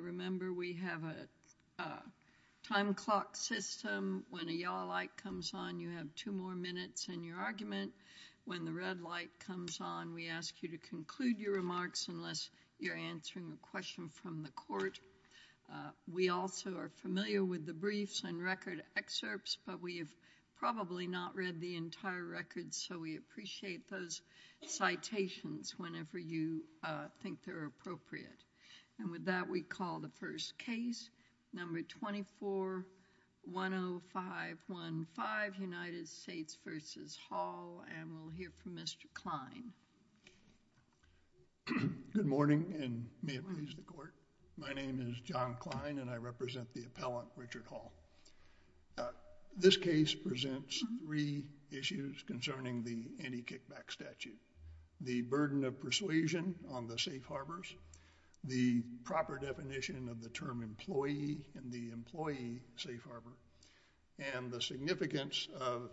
Remember, we have a time clock system. When a yellow light comes on, you have two more minutes in your argument. When the red light comes on, we ask you to conclude your remarks unless you're answering a question from the court. We also are familiar with the briefs and record excerpts, but we have probably not read the entire record, so we appreciate those citations whenever you think they're appropriate. And with that, we call the first case, number 24-10515, United States v. Hall, and we'll hear from Mr. Kline. Good morning, and may it please the court. My name is John Kline, and I represent the appellant, Richard Hall. This case presents three issues concerning the anti-kickback statute, the burden of persuasion on the safe harbors, the proper definition of the term employee and the employee safe harbor, and the significance of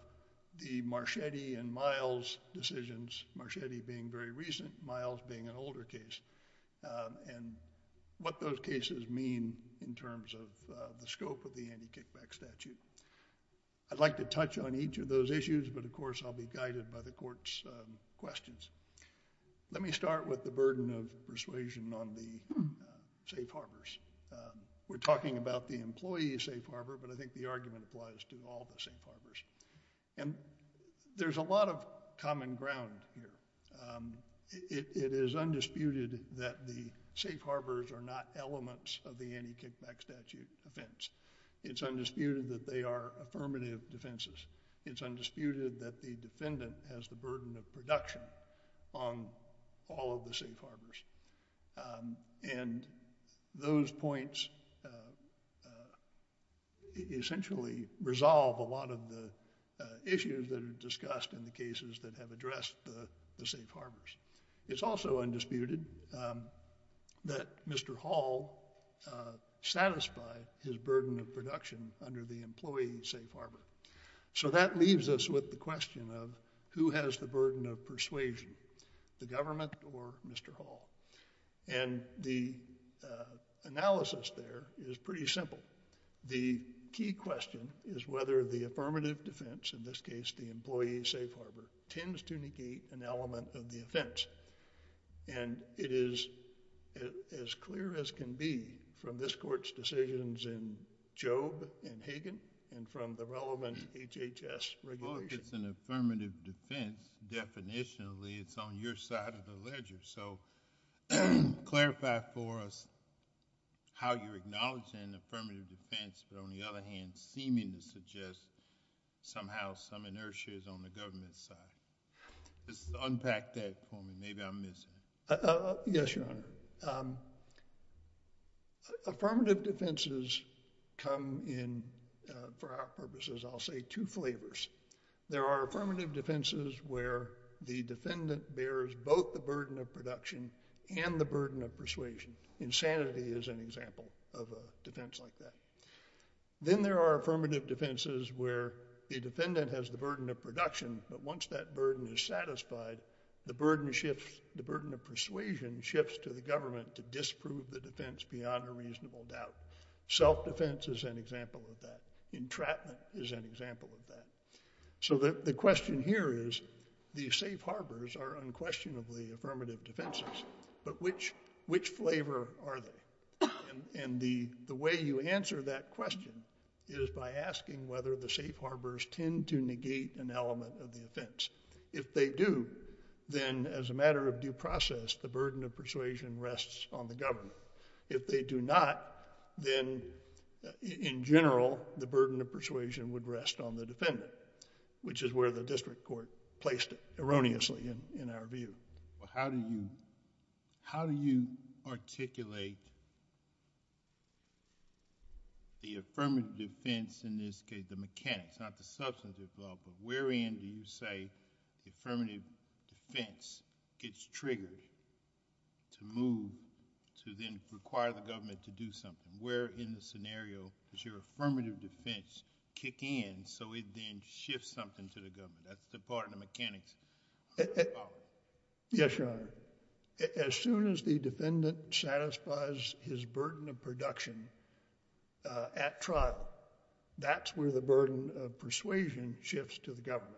the Marchetti and Miles decisions, Marchetti being very recent, Miles being an older case, and what those cases mean in terms of the scope of the anti-kickback statute. I'd like to touch on each of those issues, but of course, I'll be guided by the court's questions. Let me start with the burden of persuasion on the safe harbors. We're talking about the employee safe harbor, but I think the argument applies to all the safe harbors. And there's a lot of common ground here. It is undisputed that the safe harbors are not elements of the anti-kickback statute offense. It's undisputed that they are affirmative defenses. It's undisputed that the defendant has the burden of production on all of the safe harbors. And those points essentially resolve a lot of the issues that are discussed in the cases that have addressed the safe harbors. It's also undisputed that Mr. Hall satisfied his burden of production under the employee safe harbor. So that leaves us with the question of who has the burden of persuasion, the government or Mr. Hall? And the analysis there is pretty simple. The key question is whether the affirmative defense, in this case the employee safe harbor, tends to negate an element of the offense. And it is as clear as can be from this Court's decisions in Jobe and Hagan and from the relevant HHS regulations. Well, if it's an affirmative defense, definitionally it's on your side of the ledger. So clarify for us how you're acknowledging affirmative defense, but on the other hand, seeming to suggest somehow some inertia is on the government's side. Just unpack that for me. Maybe I'm missing. Yes, Your Honor. Affirmative defenses come in, for our purposes, I'll say two flavors. There are affirmative defenses where the defendant bears both the burden of production and the burden of persuasion. Insanity is an example of a defense like that. Then there are affirmative defenses where the defendant has the burden of production, but once that burden is satisfied, the burden shifts, the burden of persuasion shifts to the government to disprove the defense beyond a reasonable doubt. Self-defense is an example of that. Entrapment is an example of that. So the question here is, the safe harbors are unquestionably affirmative defenses, but which flavor are they? And the way you answer that question is by asking whether the safe harbors tend to negate an element of the offense. If they do, then as a matter of due process, the burden of persuasion rests on the government. If they do not, then in general, the burden of persuasion would rest on the defendant, which is where the district court placed it erroneously in our view. How do you articulate the affirmative defense in this case, the mechanics, not the substance involved, but where in do you say the affirmative defense gets triggered to move to then require the government to do something? Where in the scenario does your affirmative defense kick in so it then shifts something to the government? That's the part of the mechanics. Yes, Your Honor. As soon as the defendant satisfies his burden of production at trial, that's where the burden of persuasion shifts to the government.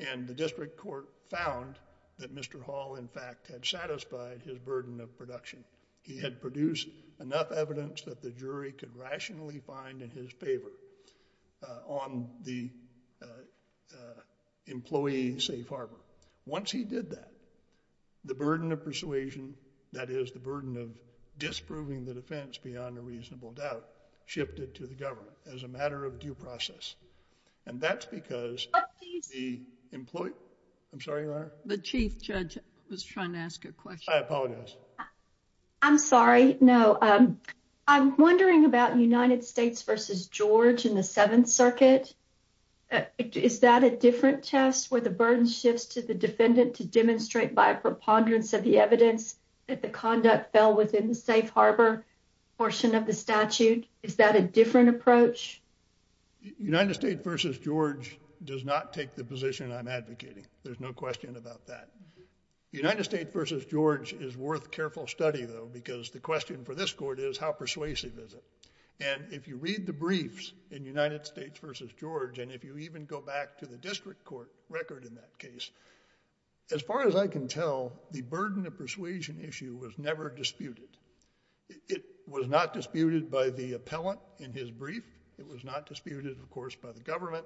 And the district court found that Mr. Hall, in fact, had satisfied his burden of production. He had produced enough evidence that the jury could rationally find in his favor on the employee safe harbor. Once he did that, the burden of persuasion, that is the burden of disproving the defense beyond a reasonable doubt, shifted to the government as a matter of due process. And that's because the employee... I'm sorry, Your Honor? The chief judge was trying to ask a question. I apologize. I'm sorry. No. I'm wondering about United States v. George in the Seventh Circuit. Is that a different test where the burden shifts to the defendant to demonstrate by a preponderance of the evidence that the conduct fell within the safe harbor portion of the statute? Is that a different approach? United States v. George does not take the position I'm advocating. There's no question about that. United States v. George is worth careful study, though, because the question for this court is, how persuasive is it? And if you read the briefs in United States v. George, and if you even go back to the district court record in that case, as far as I can tell, the burden of persuasion issue was never disputed. It was not disputed by the appellant in his brief. It was not disputed, of course, by the government.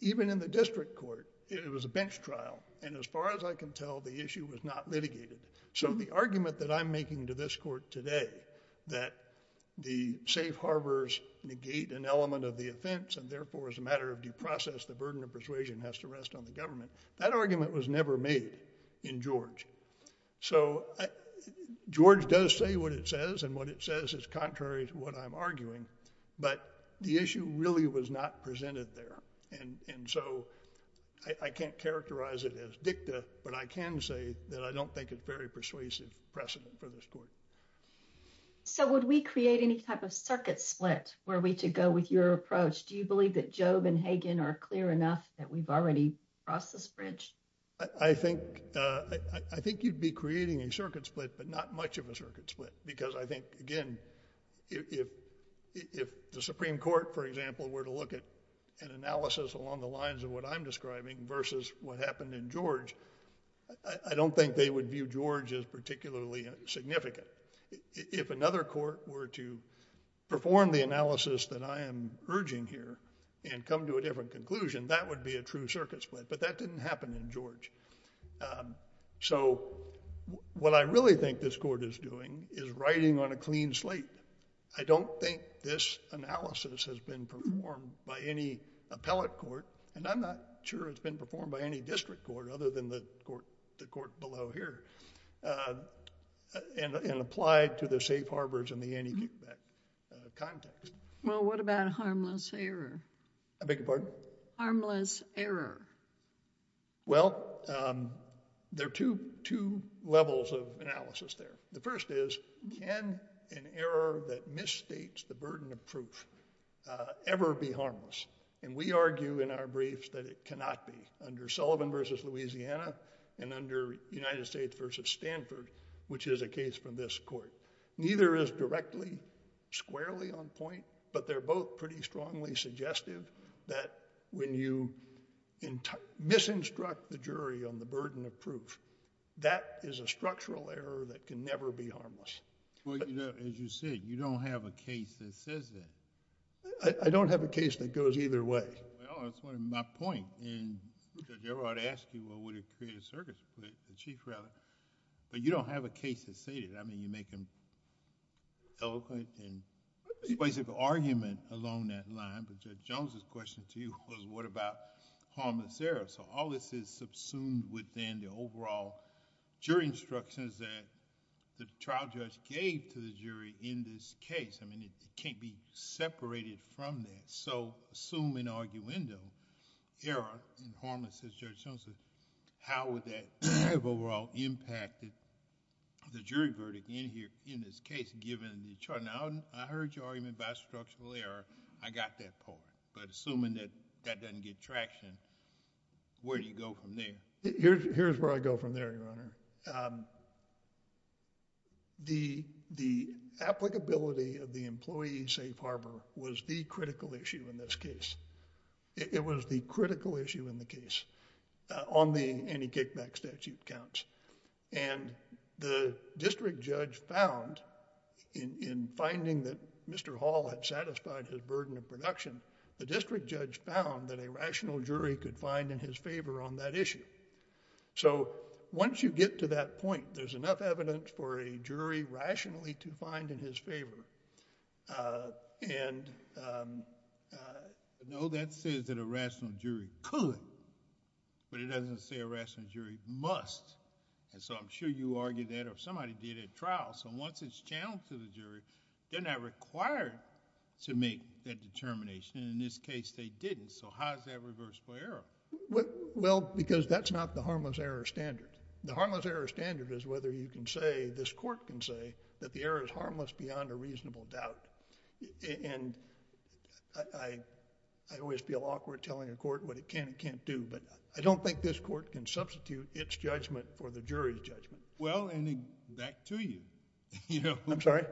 Even in the district court, it was a bench trial. And as far as I can tell, the issue was not litigated. So the argument that I'm making to this court today, that the safe harbors negate an element of the offense, and therefore, as a matter of due process, the burden of persuasion has to rest on the government, that argument was never made in George. So George does say what it says, and what it says is contrary to what I'm arguing. But the issue really was not presented there. And so I can't characterize it as dicta, but I can say that I don't think it's very persuasive precedent for this court. So would we create any type of circuit split, were we to go with your approach? Do you believe that Job and Hagen are clear enough that we've already crossed this bridge? I think you'd be creating a circuit split, but not much of a circuit split, because I think, again, if the Supreme Court, for example, were to look at an analysis along the lines of what I'm describing versus what happened in George, I don't think they would view George as particularly significant. If another court were to perform the analysis that I am urging here, and come to a different conclusion, that would be a true circuit split, but that I don't think this analysis has been performed by any appellate court, and I'm not sure it's been performed by any district court other than the court below here, and applied to the safe harbors and the anti-kickback context. Well, what about harmless error? I beg your pardon? Harmless error. Well, there are two levels of analysis there. The first is, can an error that misstates the burden of proof ever be harmless? And we argue in our briefs that it cannot be, under Sullivan versus Louisiana, and under United States versus Stanford, which is a case from this court. Neither is directly, squarely on point, but they're both pretty clear. If you can misinstruct the jury on the burden of proof, that is a structural error that can never be harmless. Well, as you said, you don't have a case that says that. I don't have a case that goes either way. Well, that's my point, and Judge Everard asked you, well, would it create a circuit split, the chief rather, but you don't have a case that said it. I mean, you make an eloquent and specific argument along that line, but Judge Jones' question to you was, what about harmless error? So, all this is subsumed within the overall jury instructions that the trial judge gave to the jury in this case. I mean, it can't be separated from that. So, assume in arguendo, error in harmless, as Judge Jones said, how would that have overall impacted the jury verdict in this case, given the charge? Now, I heard your argument about structural error. I got that part, but assuming that that doesn't get traction, where do you go from there? Here's where I go from there, Your Honor. The applicability of the employee safe harbor was the critical issue in this case. It was the critical issue in the case on the anti-kickback statute counts, and the district judge found in finding that Mr. Hall had satisfied his burden of production, the district judge found that a rational jury could find in his favor on that issue. So, once you get to that point, there's enough evidence for a jury rationally to find in his favor, and... And so, I'm sure you argued that, or somebody did at trial. So, once it's challenged to the jury, then they're required to make that determination. In this case, they didn't. So, how is that reversible error? Well, because that's not the harmless error standard. The harmless error standard is whether you can say, this court can say that the error is harmless beyond a reasonable doubt. And I always feel awkward telling the court what it can and can't do, but I don't think this court can substitute its judgment for the jury's judgment. Well, and back to you. I'm sorry?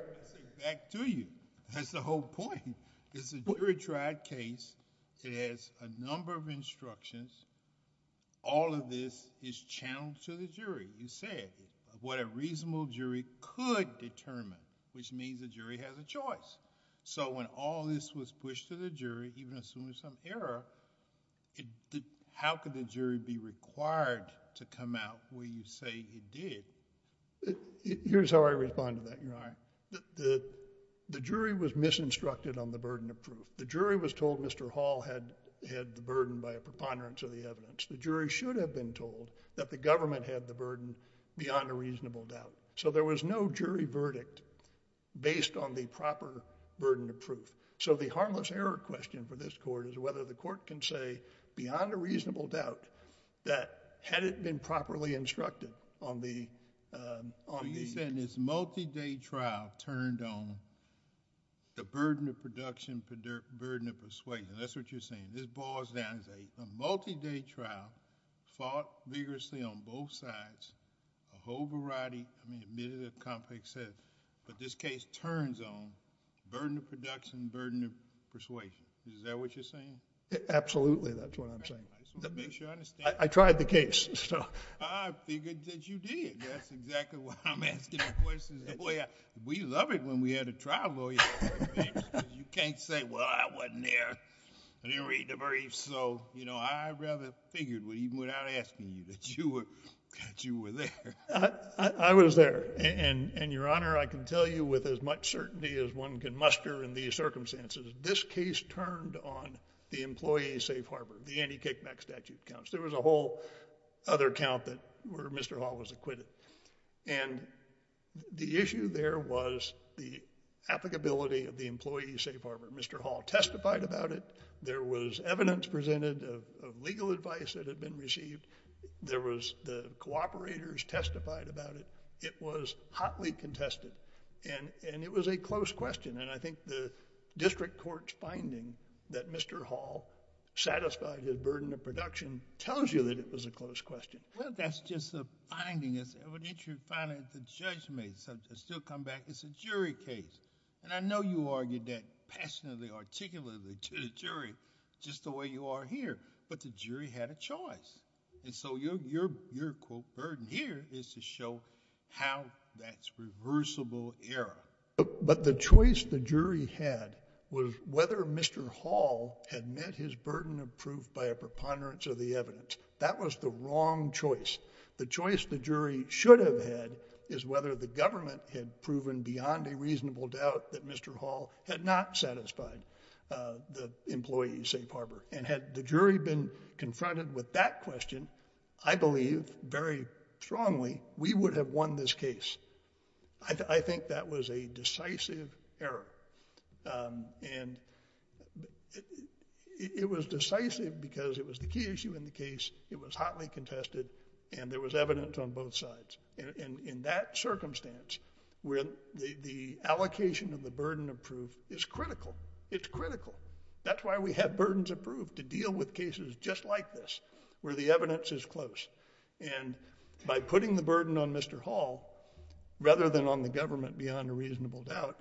Back to you. That's the whole point. It's a jury-tried case. It has a number of instructions. All of this is channeled to the jury. You said, what a reasonable jury could determine, which means the jury has a choice. So, when all this was pushed to the jury, even assuming there's some error, how could the jury be required to come out where you say it did? Here's how I respond to that, Your Honor. The jury was misinstructed on the burden of proof. The jury was told Mr. Hall had the burden by a preponderance of the evidence. The jury should have been told that the government had the burden beyond a reasonable doubt. So, there was no jury verdict based on the proper burden of proof. So, the question is whether the court can say, beyond a reasonable doubt, that had it been properly instructed on the... So, you're saying this multi-day trial turned on the burden of production, burden of persuasion. That's what you're saying. This boils down to a multi-day trial, fought vigorously on both sides, a whole variety... I mean, admittedly, a complex set of... but this case turns on burden of production, burden of persuasion. Is that what you're Absolutely, that's what I'm saying. I just want to make sure I understand... I tried the case, so... I figured that you did. That's exactly what I'm asking the question. We loved it when we had a trial lawyer. You can't say, well, I wasn't there. I didn't read the briefs. So, you know, I rather figured, even without asking you, that you were there. I was there. And, Your Honor, I can tell you with as much certainty as one can muster in these circumstances, this case turned on the employee safe harbor, the anti-kickback statute counts. There was a whole other count where Mr. Hall was acquitted. And the issue there was the applicability of the employee safe harbor. Mr. Hall testified about it. There was evidence presented of legal advice that had been received. There was the cooperators testified about it. It was hotly contested. And it was a close question. And I think the district court's finding that Mr. Hall satisfied his burden of production tells you that it was a close question. Well, that's just a finding. It's evidentially a finding that the judge made. So, to still come back, it's a jury case. And I know you argued that passionately, articulately to the jury, just the way you are here. But the jury had a choice. And so your, quote, burden here is to show how that's reversible error. But the choice the jury had was whether Mr. Hall had met his burden of proof by a preponderance of the evidence. That was the wrong choice. The choice the jury should have had is whether the government had proven beyond a reasonable doubt that Mr. Hall had not satisfied the employee safe harbor. And had the jury been confronted with that question, I believe, very strongly, we would have won this case. I think that was a decisive error. And it was decisive because it was the key issue in the case. It was hotly contested. And there was evidence on both sides. And in that circumstance, where the allocation of the burden of proof is critical, it's critical. That's why we have burdens of proof to deal with cases just like this, where the evidence is close. And by putting the burden on Mr. Hall, rather than on the government beyond a reasonable doubt,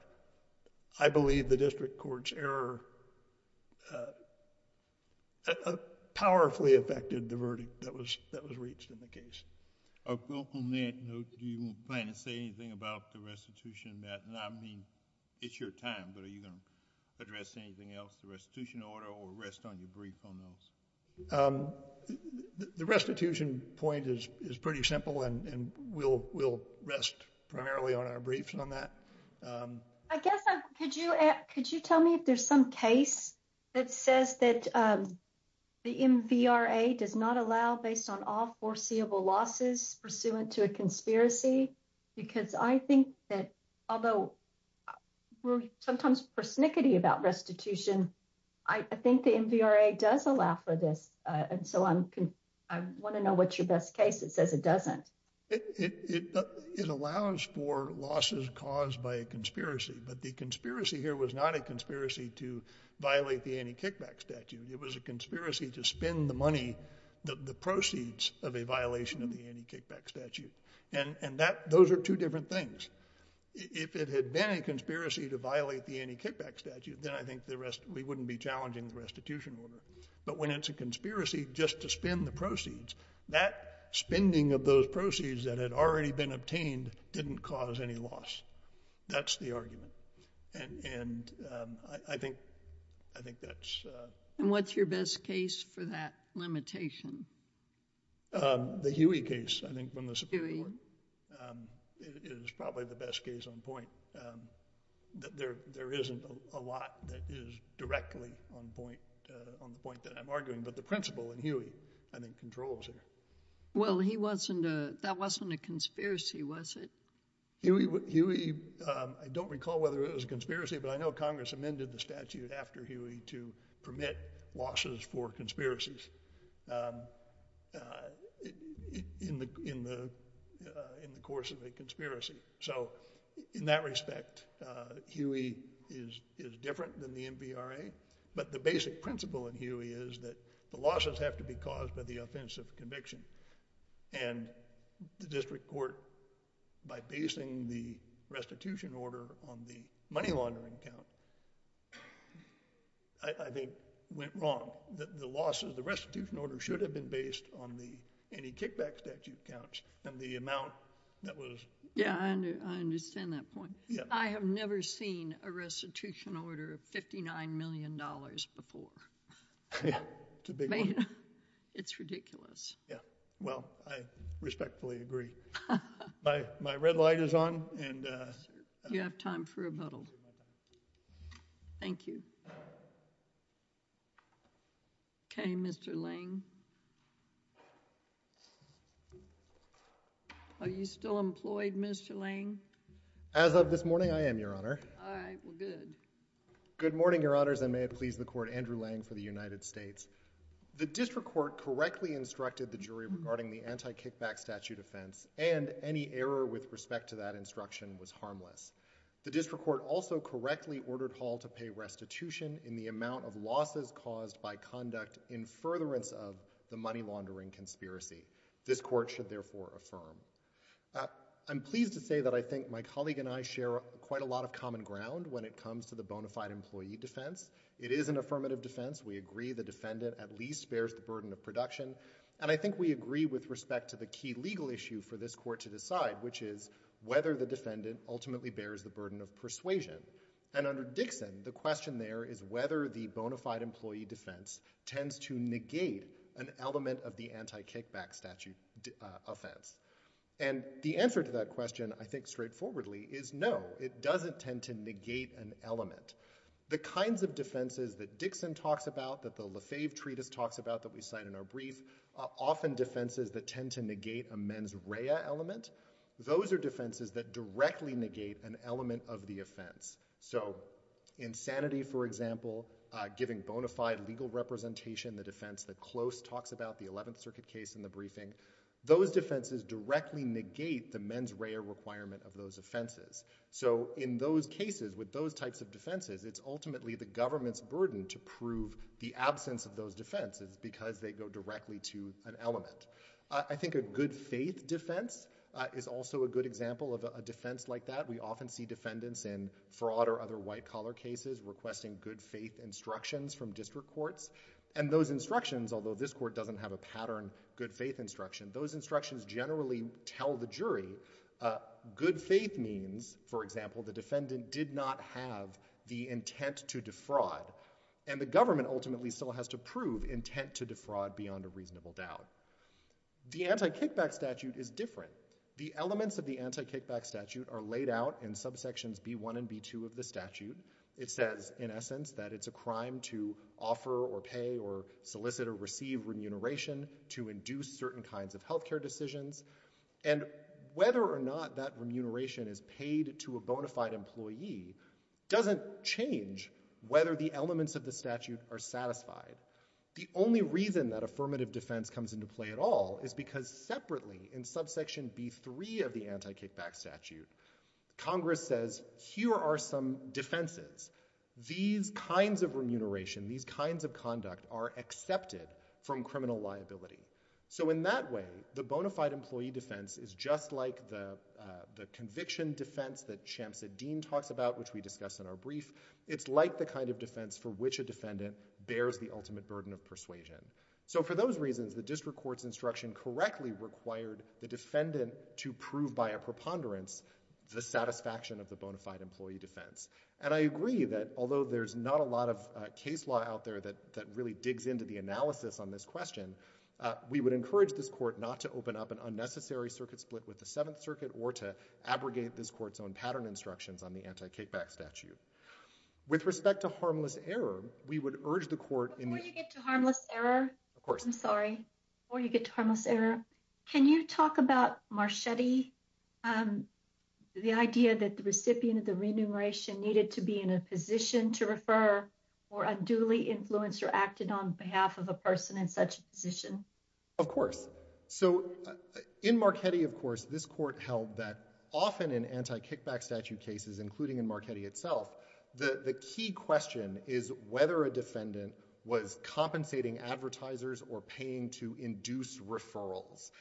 I believe the district court's error powerfully affected the verdict that was reached in the case. On that note, do you plan to say anything about the restitution, Matt? I mean, it's your time, but are you going to address anything else, the restitution order, or rest on your brief on those? The restitution point is pretty simple, and we'll rest primarily on our briefs on that. I guess, could you tell me if there's some case that says that the MVRA does not allow, based on all foreseeable losses, pursuant to a conspiracy? Because I think that, although we're sometimes persnickety about restitution, I think the MVRA does allow for this. And so I want to know what's your best case that says it doesn't. It allows for losses caused by a conspiracy. But the conspiracy here was not a conspiracy to violate the anti-kickback statute. It was a conspiracy to spend the money, the proceeds of a violation of the anti-kickback statute. And those are two different things. If it had been a conspiracy to violate the anti-kickback statute, then I think we wouldn't be challenging the restitution order. But when it's a conspiracy just to spend the proceeds, that spending of those proceeds that had already been obtained didn't cause any loss. That's the argument. And I think that's... And what's your best case for that limitation? The Huey case, I think, from the Supreme Court, is probably the best case on point. There isn't a lot that is directly on point, on the point that I'm arguing. But the principal in Huey, I think, controls it. Well, he wasn't a, that wasn't a conspiracy, was it? Huey, I don't recall whether it was a conspiracy, but I know Congress amended the statute after Huey to permit losses for conspiracies in the course of a conspiracy. So in that respect, Huey is different than the MVRA. But the basic principle in Huey is that the losses have to be caused by the offense of conviction. And the district court, by basing the restitution order on the money laundering count, I think went wrong. The losses, the restitution order should have been based on the anti-kickback statute counts and the amount that was... Yeah, I understand that point. I have never seen a restitution order of $59 million before. Yeah, it's a big one. It's ridiculous. Yeah, well, I respectfully agree. My red light is on. You have time for rebuttal. Thank you. Okay, Mr. Lang. Are you still employed, Mr. Lang? As of this morning, I am, Your Honor. All right, well, good. Good morning, Your Honors, and may it please the Court, Andrew Lang for the United States. The district court correctly instructed the jury regarding the anti-kickback statute offense, and any error with respect to that instruction was harmless. The district court also correctly ordered Hall to pay restitution in the amount of losses caused by conduct in furtherance of the money laundering conspiracy. This Court should therefore affirm. I'm pleased to say that I think my colleague and I share quite a lot of common ground when it comes to the bona fide employee defense. It is an affirmative defense. We agree the defendant at least bears the burden of production, and I think we agree with respect to the key legal issue for this Court to decide, which is whether the defendant ultimately bears the burden of persuasion. And under Dixon, the question there is whether the bona fide employee defense tends to negate an element of the anti-kickback statute offense. And the answer to that question, I think, straightforwardly, is no. It doesn't tend to negate an element. The kinds of defenses that Dixon talks about, that the Lefebvre Treatise talks about that we cite in our brief, are often defenses that tend to negate a mens rea element. Those are defenses that directly negate an element of the offense. So insanity, for example, giving bona fide legal representation, the defense that Close talks about, the 11th Circuit case in the briefing, those defenses directly negate the mens rea requirement of those offenses. So in those cases, with those types of defenses, it's ultimately the government's burden to prove the absence of those defenses because they go directly to an element. I think a good faith defense is also a good example of a defense like that. We often see defendants in fraud or other white collar cases requesting good faith instructions from district courts, and those instructions, although this Court doesn't have a pattern of good faith instruction, those instructions generally tell the jury good faith means, for example, the defendant did not have the intent to defraud, and the government ultimately still has to prove intent to defraud beyond a reasonable doubt. The anti-kickback statute is different. The elements of the anti-kickback statute are laid out in subsections B1 and B2 of the statute. It says, in essence, that it's a crime to offer or pay or solicit or receive remuneration to induce certain kinds of health care decisions, and whether or not that remuneration is paid to a bona fide employee doesn't change whether the elements of the statute are satisfied. The only reason that affirmative defense comes into play at all is because separately, in subsection B3 of the anti-kickback statute, Congress says, here are some defenses. These kinds of remuneration, these kinds of conduct are accepted from criminal liability. So in that way, the bona fide employee defense is just like the conviction defense that Champs-Edine talks about, which we discussed in our brief. It's like the kind of defense for which a defendant bears the ultimate burden of persuasion. So for those reasons, the district court's instruction correctly required the defendant to prove by a preponderance the satisfaction of the bona fide employee defense. And I agree that although there's not a lot of case law out there that really digs into the analysis on this question, we would encourage this court not to open up an unnecessary circuit split with the Seventh Circuit or to abrogate this court's own pattern instructions on the anti-kickback statute. With respect to harmless error, we would urge the court Before you get to harmless error, can you talk about Marchetti, the idea that the recipient of the remuneration needed to be in a position to refer for a duly influenced or acted on behalf of a person in such a position? Of course. So in Marchetti, of course, this court held that often in anti-kickback statute cases, including in Marchetti itself, the key question is whether a defendant was compensating advertisers or paying to induce referrals.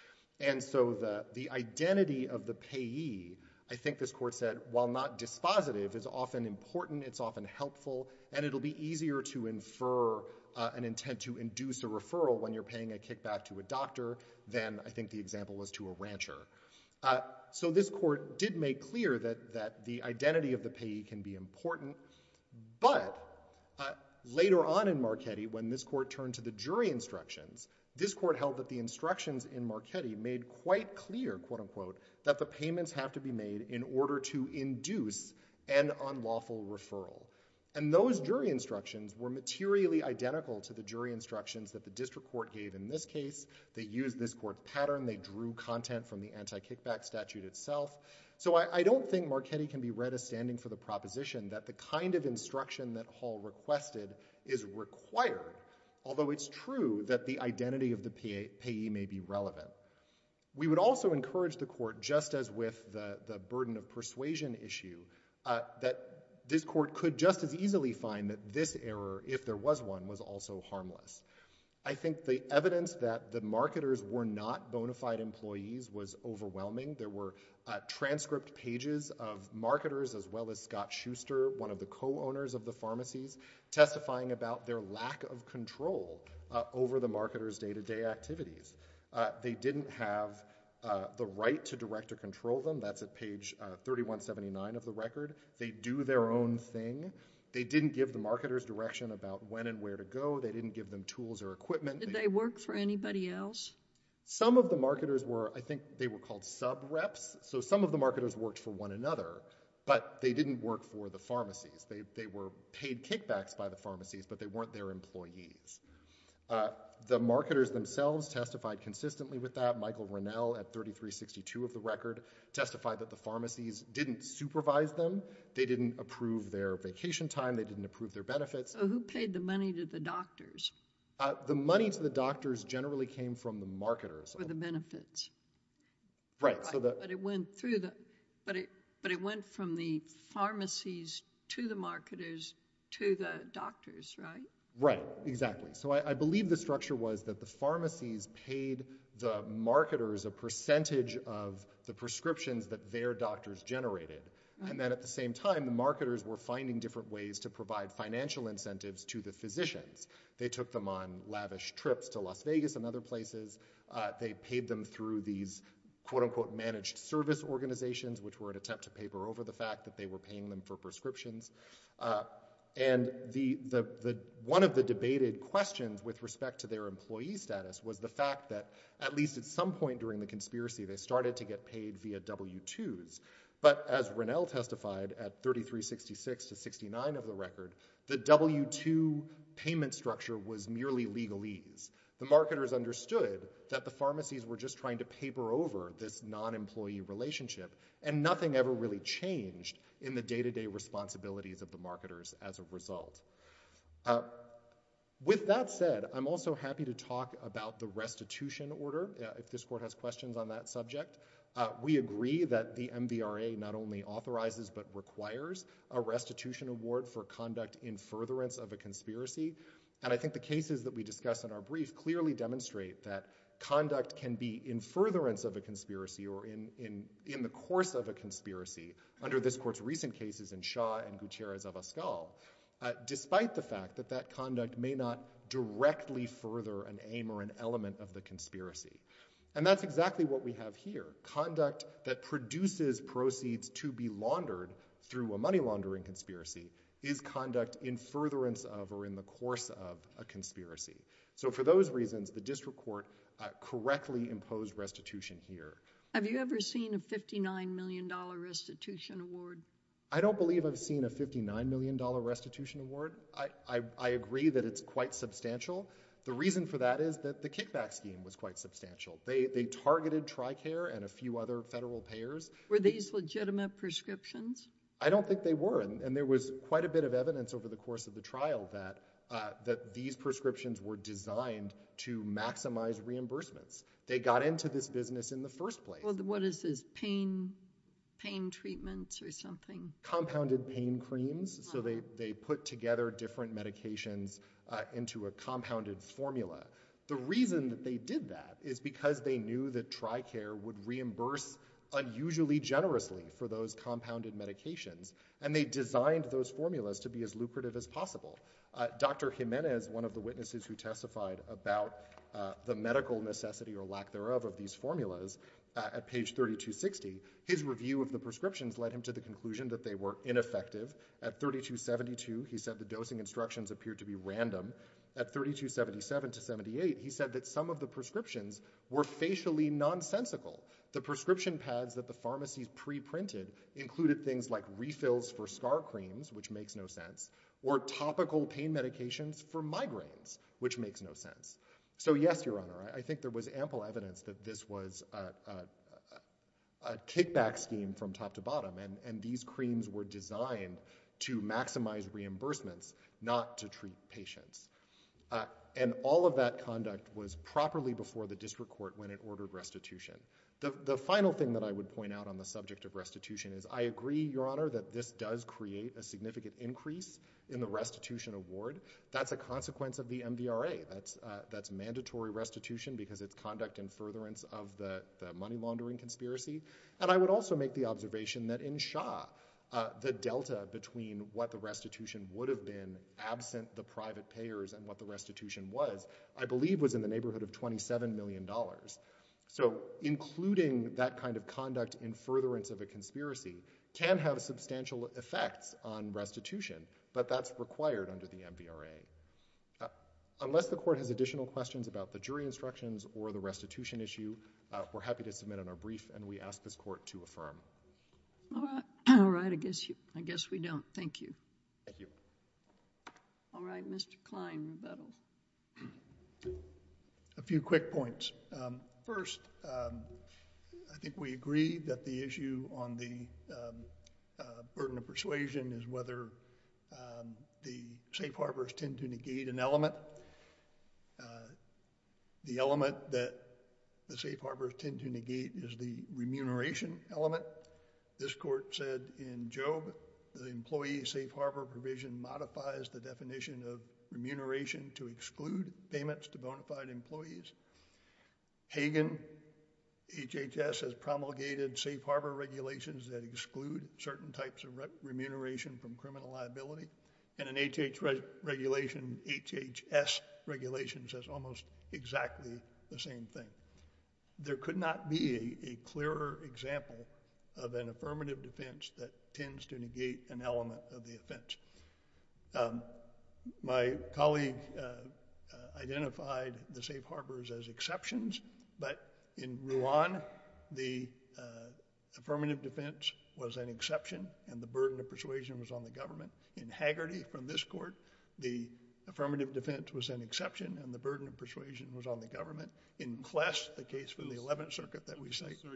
And so the identity of the payee, I think this court said, while not dispositive, is often important, it's often helpful, and it'll be easier to infer an intent to induce a referral when you're paying a kickback to a doctor than, I think the example was to a rancher. So this court did make clear that the identity of the payee can be important, but later on in Marchetti when this court turned to the jury instructions, this court held that the instructions in Marchetti made quite clear that the payments have to be made in order to induce an unlawful referral. And those jury instructions were materially identical to the jury instructions that the district court gave in this case. They used this court's pattern. They drew content from the anti-kickback statute itself. So I don't think Marchetti can be read as standing for the proposition that the kind of instruction that Hall requested is required, although it's true that the identity of the payee may be relevant. We would also encourage the court, just as with the burden of persuasion issue, that this court could just as easily find that this error, if there was one, was also harmless. I think the evidence that the marketers were not bona fide employees was overwhelming. There were transcript pages of marketers as well as Scott Schuster, one of the co-owners of the pharmacies, testifying about their lack of control over the marketers' day-to-day activities. They didn't have the right to direct or control them. That's at page 3179 of the record. They do their own thing. They didn't give the marketers direction about when and where to go. They didn't give them tools or equipment. Did they work for anybody else? Some of the marketers were, I think they were called sub-reps. So some of the marketers worked for one another, but they didn't work for the pharmacies. They were paid kickbacks by the pharmacies, but they weren't their employees. The marketers themselves testified consistently with that. Michael Rennell at 3362 of the record testified that the pharmacies didn't supervise them. They didn't approve their vacation time. They didn't approve their benefits. So who paid the money to the doctors? The money to the doctors generally came from the marketers. For the benefits. Right. But it went through the pharmacies to the marketers to the doctors, right? Right. Exactly. So I believe the structure was that the pharmacies paid the marketers a percentage of the prescriptions that their doctors generated. And then at the same time, the marketers were finding different ways to provide financial incentives to the physicians. They took them on lavish trips to Las Vegas and other places. They paid them through these quote unquote managed service organizations, which were an attempt to paper over the fact that they were paying them for prescriptions. And one of the debated questions with respect to their employee status was the fact that at least at some point during the conspiracy, they started to get paid via W-2s. But as Rennell testified at 3366 to 69 of the record, the W-2 payment structure was merely legalese. The marketers understood that the pharmacies were just trying to paper over this non-employee relationship and nothing ever really changed in the day-to-day responsibilities of the marketers as a result. With that said, I'm also happy to talk about the restitution order, if this Court has questions on that subject. We agree that the MVRA not only authorizes but requires a restitution award for conduct in furtherance of a conspiracy. And I think the cases that we discuss in our brief clearly demonstrate that conduct can be in furtherance of a conspiracy or in the course of a conspiracy under this Court's recent cases in Shaw and Gutierrez-Avoscal, despite the fact that that conduct may not directly further an aim or an element of the conspiracy. And that's exactly what we have here. Conduct that produces proceeds to be laundered through a money laundering conspiracy is conduct in furtherance of or in the course of a conspiracy. So for those reasons, the District Court correctly imposed restitution here. Have you ever seen a $59 million restitution award? I don't believe I've seen a $59 million restitution award. I agree that it's quite substantial. The reason for that is that the kickback scheme was quite substantial. They targeted Tricare and a few other federal payers. Were these legitimate prescriptions? I don't think they were. And there was quite a bit of evidence over the course of the trial that these prescriptions were designed to maximize reimbursements. They got into this business in the first place. What is this, pain treatments or something? Compounded pain creams. So they put together different medications into a compounded formula. The reason that they did that is because they knew that Tricare would reimburse unusually generously for those compounded medications. And they designed those formulas to be as lucrative as possible. Dr. Jimenez, one of the witnesses who testified about the medical necessity or lack thereof of these formulas at page 3260, his review of the prescriptions led him to the conclusion that they were ineffective. At 3272, he said the dosing instructions appeared to be random. At 3277 to 78, he said that some of the prescriptions were facially nonsensical. The prescription pads that the pharmacies pre-printed included things like refills for scar creams, which makes no sense, or topical pain medications for migraines, which makes no sense. So yes, Your Honor, I think there was ample evidence that this was a kickback scheme from top to bottom and these creams were designed to maximize reimbursements, not to treat patients. And all of that conduct was properly before the district court when it ordered restitution. The final thing that I would point out on the subject of restitution is I agree, Your Honor, that this does create a significant increase in the restitution award. That's a consequence of the MVRA. That's mandatory restitution because it's conduct in furtherance of the money laundering conspiracy. And I would also make the observation that in Shaw, the delta between what the restitution would have been absent the private payers and what the restitution was, I believe was in the neighborhood of $27 million. So including that kind of conduct in furtherance of a conspiracy can have substantial effects on restitution, but that's required under the MVRA. Unless the court has additional questions about the jury All right. I guess we don't. Thank you. All right. Mr. Klein, rebuttal. A few quick points. First, I think we agree that the issue on the burden of persuasion is whether the safe harbors tend to negate an element. The element that the safe harbors tend to negate is the element of remuneration. And I think it's important to note that this court said in Job, the employee safe harbor provision modifies the definition of remuneration to exclude payments to bona fide employees. Hagen, HHS has promulgated safe harbor regulations that exclude certain types of remuneration from criminal liability. And an HHS regulation says almost exactly the same thing. There could not be a clearer example of an affirmative defense that tends to negate an element of the offense. My colleague identified the safe harbors as exceptions, but in Ruan the affirmative defense was an exception and the burden of persuasion was on the government. In Hagerty from this court, the affirmative defense was an exception and the burden of persuasion was on the government. In Kless, the case for the Eleventh Circuit that we cite... I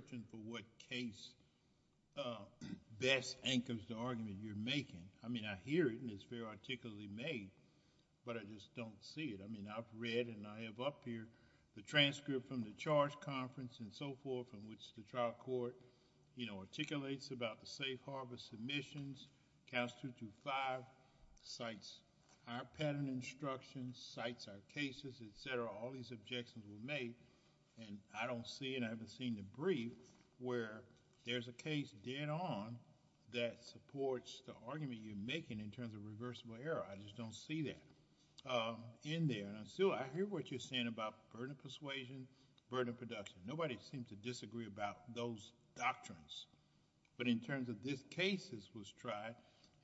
don't see it. I've read and I have up here the transcript from the charge conference and so forth in which the trial court articulates about the safe harbor submissions. Clause 225 cites our patent instructions, cites our cases, etc. All these objections were made and I don't see and I haven't seen the brief where there's a case dead on that supports the argument you're making in terms of reversible error. I just don't see that in there. I hear what you're saying about burden of persuasion, burden of production. Nobody seems to disagree about those doctrines, but in terms of this case that was tried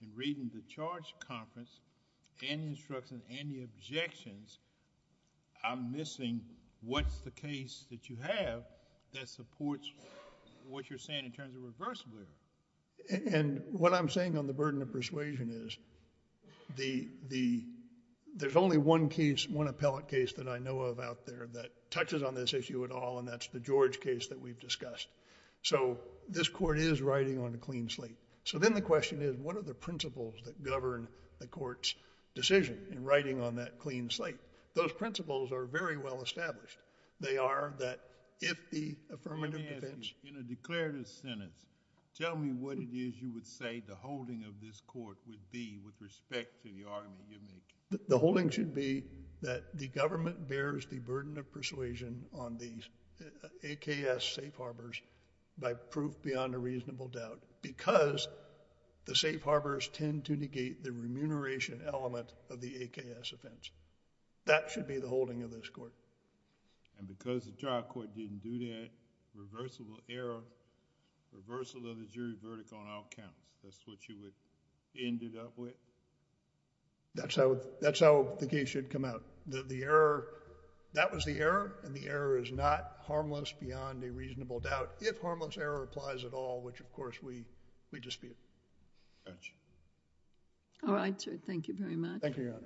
in reading the charge conference and the instructions and the objections, I'm missing what's the case that you have that supports what you're saying in terms of reversible error. And what I'm saying on the burden of persuasion is there's only one case, one appellate case that I know of out there that touches on this issue at all and that's the George case that we've discussed. So this court is riding on a clean slate. So then the question is what are the principles that govern the court's decision in riding on that clean slate? Those principles are very well established. They are that if the affirmative defense... Let me ask you, in a declarative sentence, tell me what it is you would say the holding of this court would be with respect to the argument you're making. The holding should be that the government bears the burden of persuasion on the AKS safe harbors by proof beyond a reasonable doubt because the safe harbors tend to negate the remuneration element of the AKS offense. That should be the holding of this court. And because the trial court didn't do that, reversible error, reversal of the jury verdict on all counts. That's what you would end it up with? That's how the case should come out. That was the error and the error is not harmless beyond a reasonable doubt if harmless error applies at all, which of course we dispute. All right, sir. Thank you very much. Thank you, Your Honor.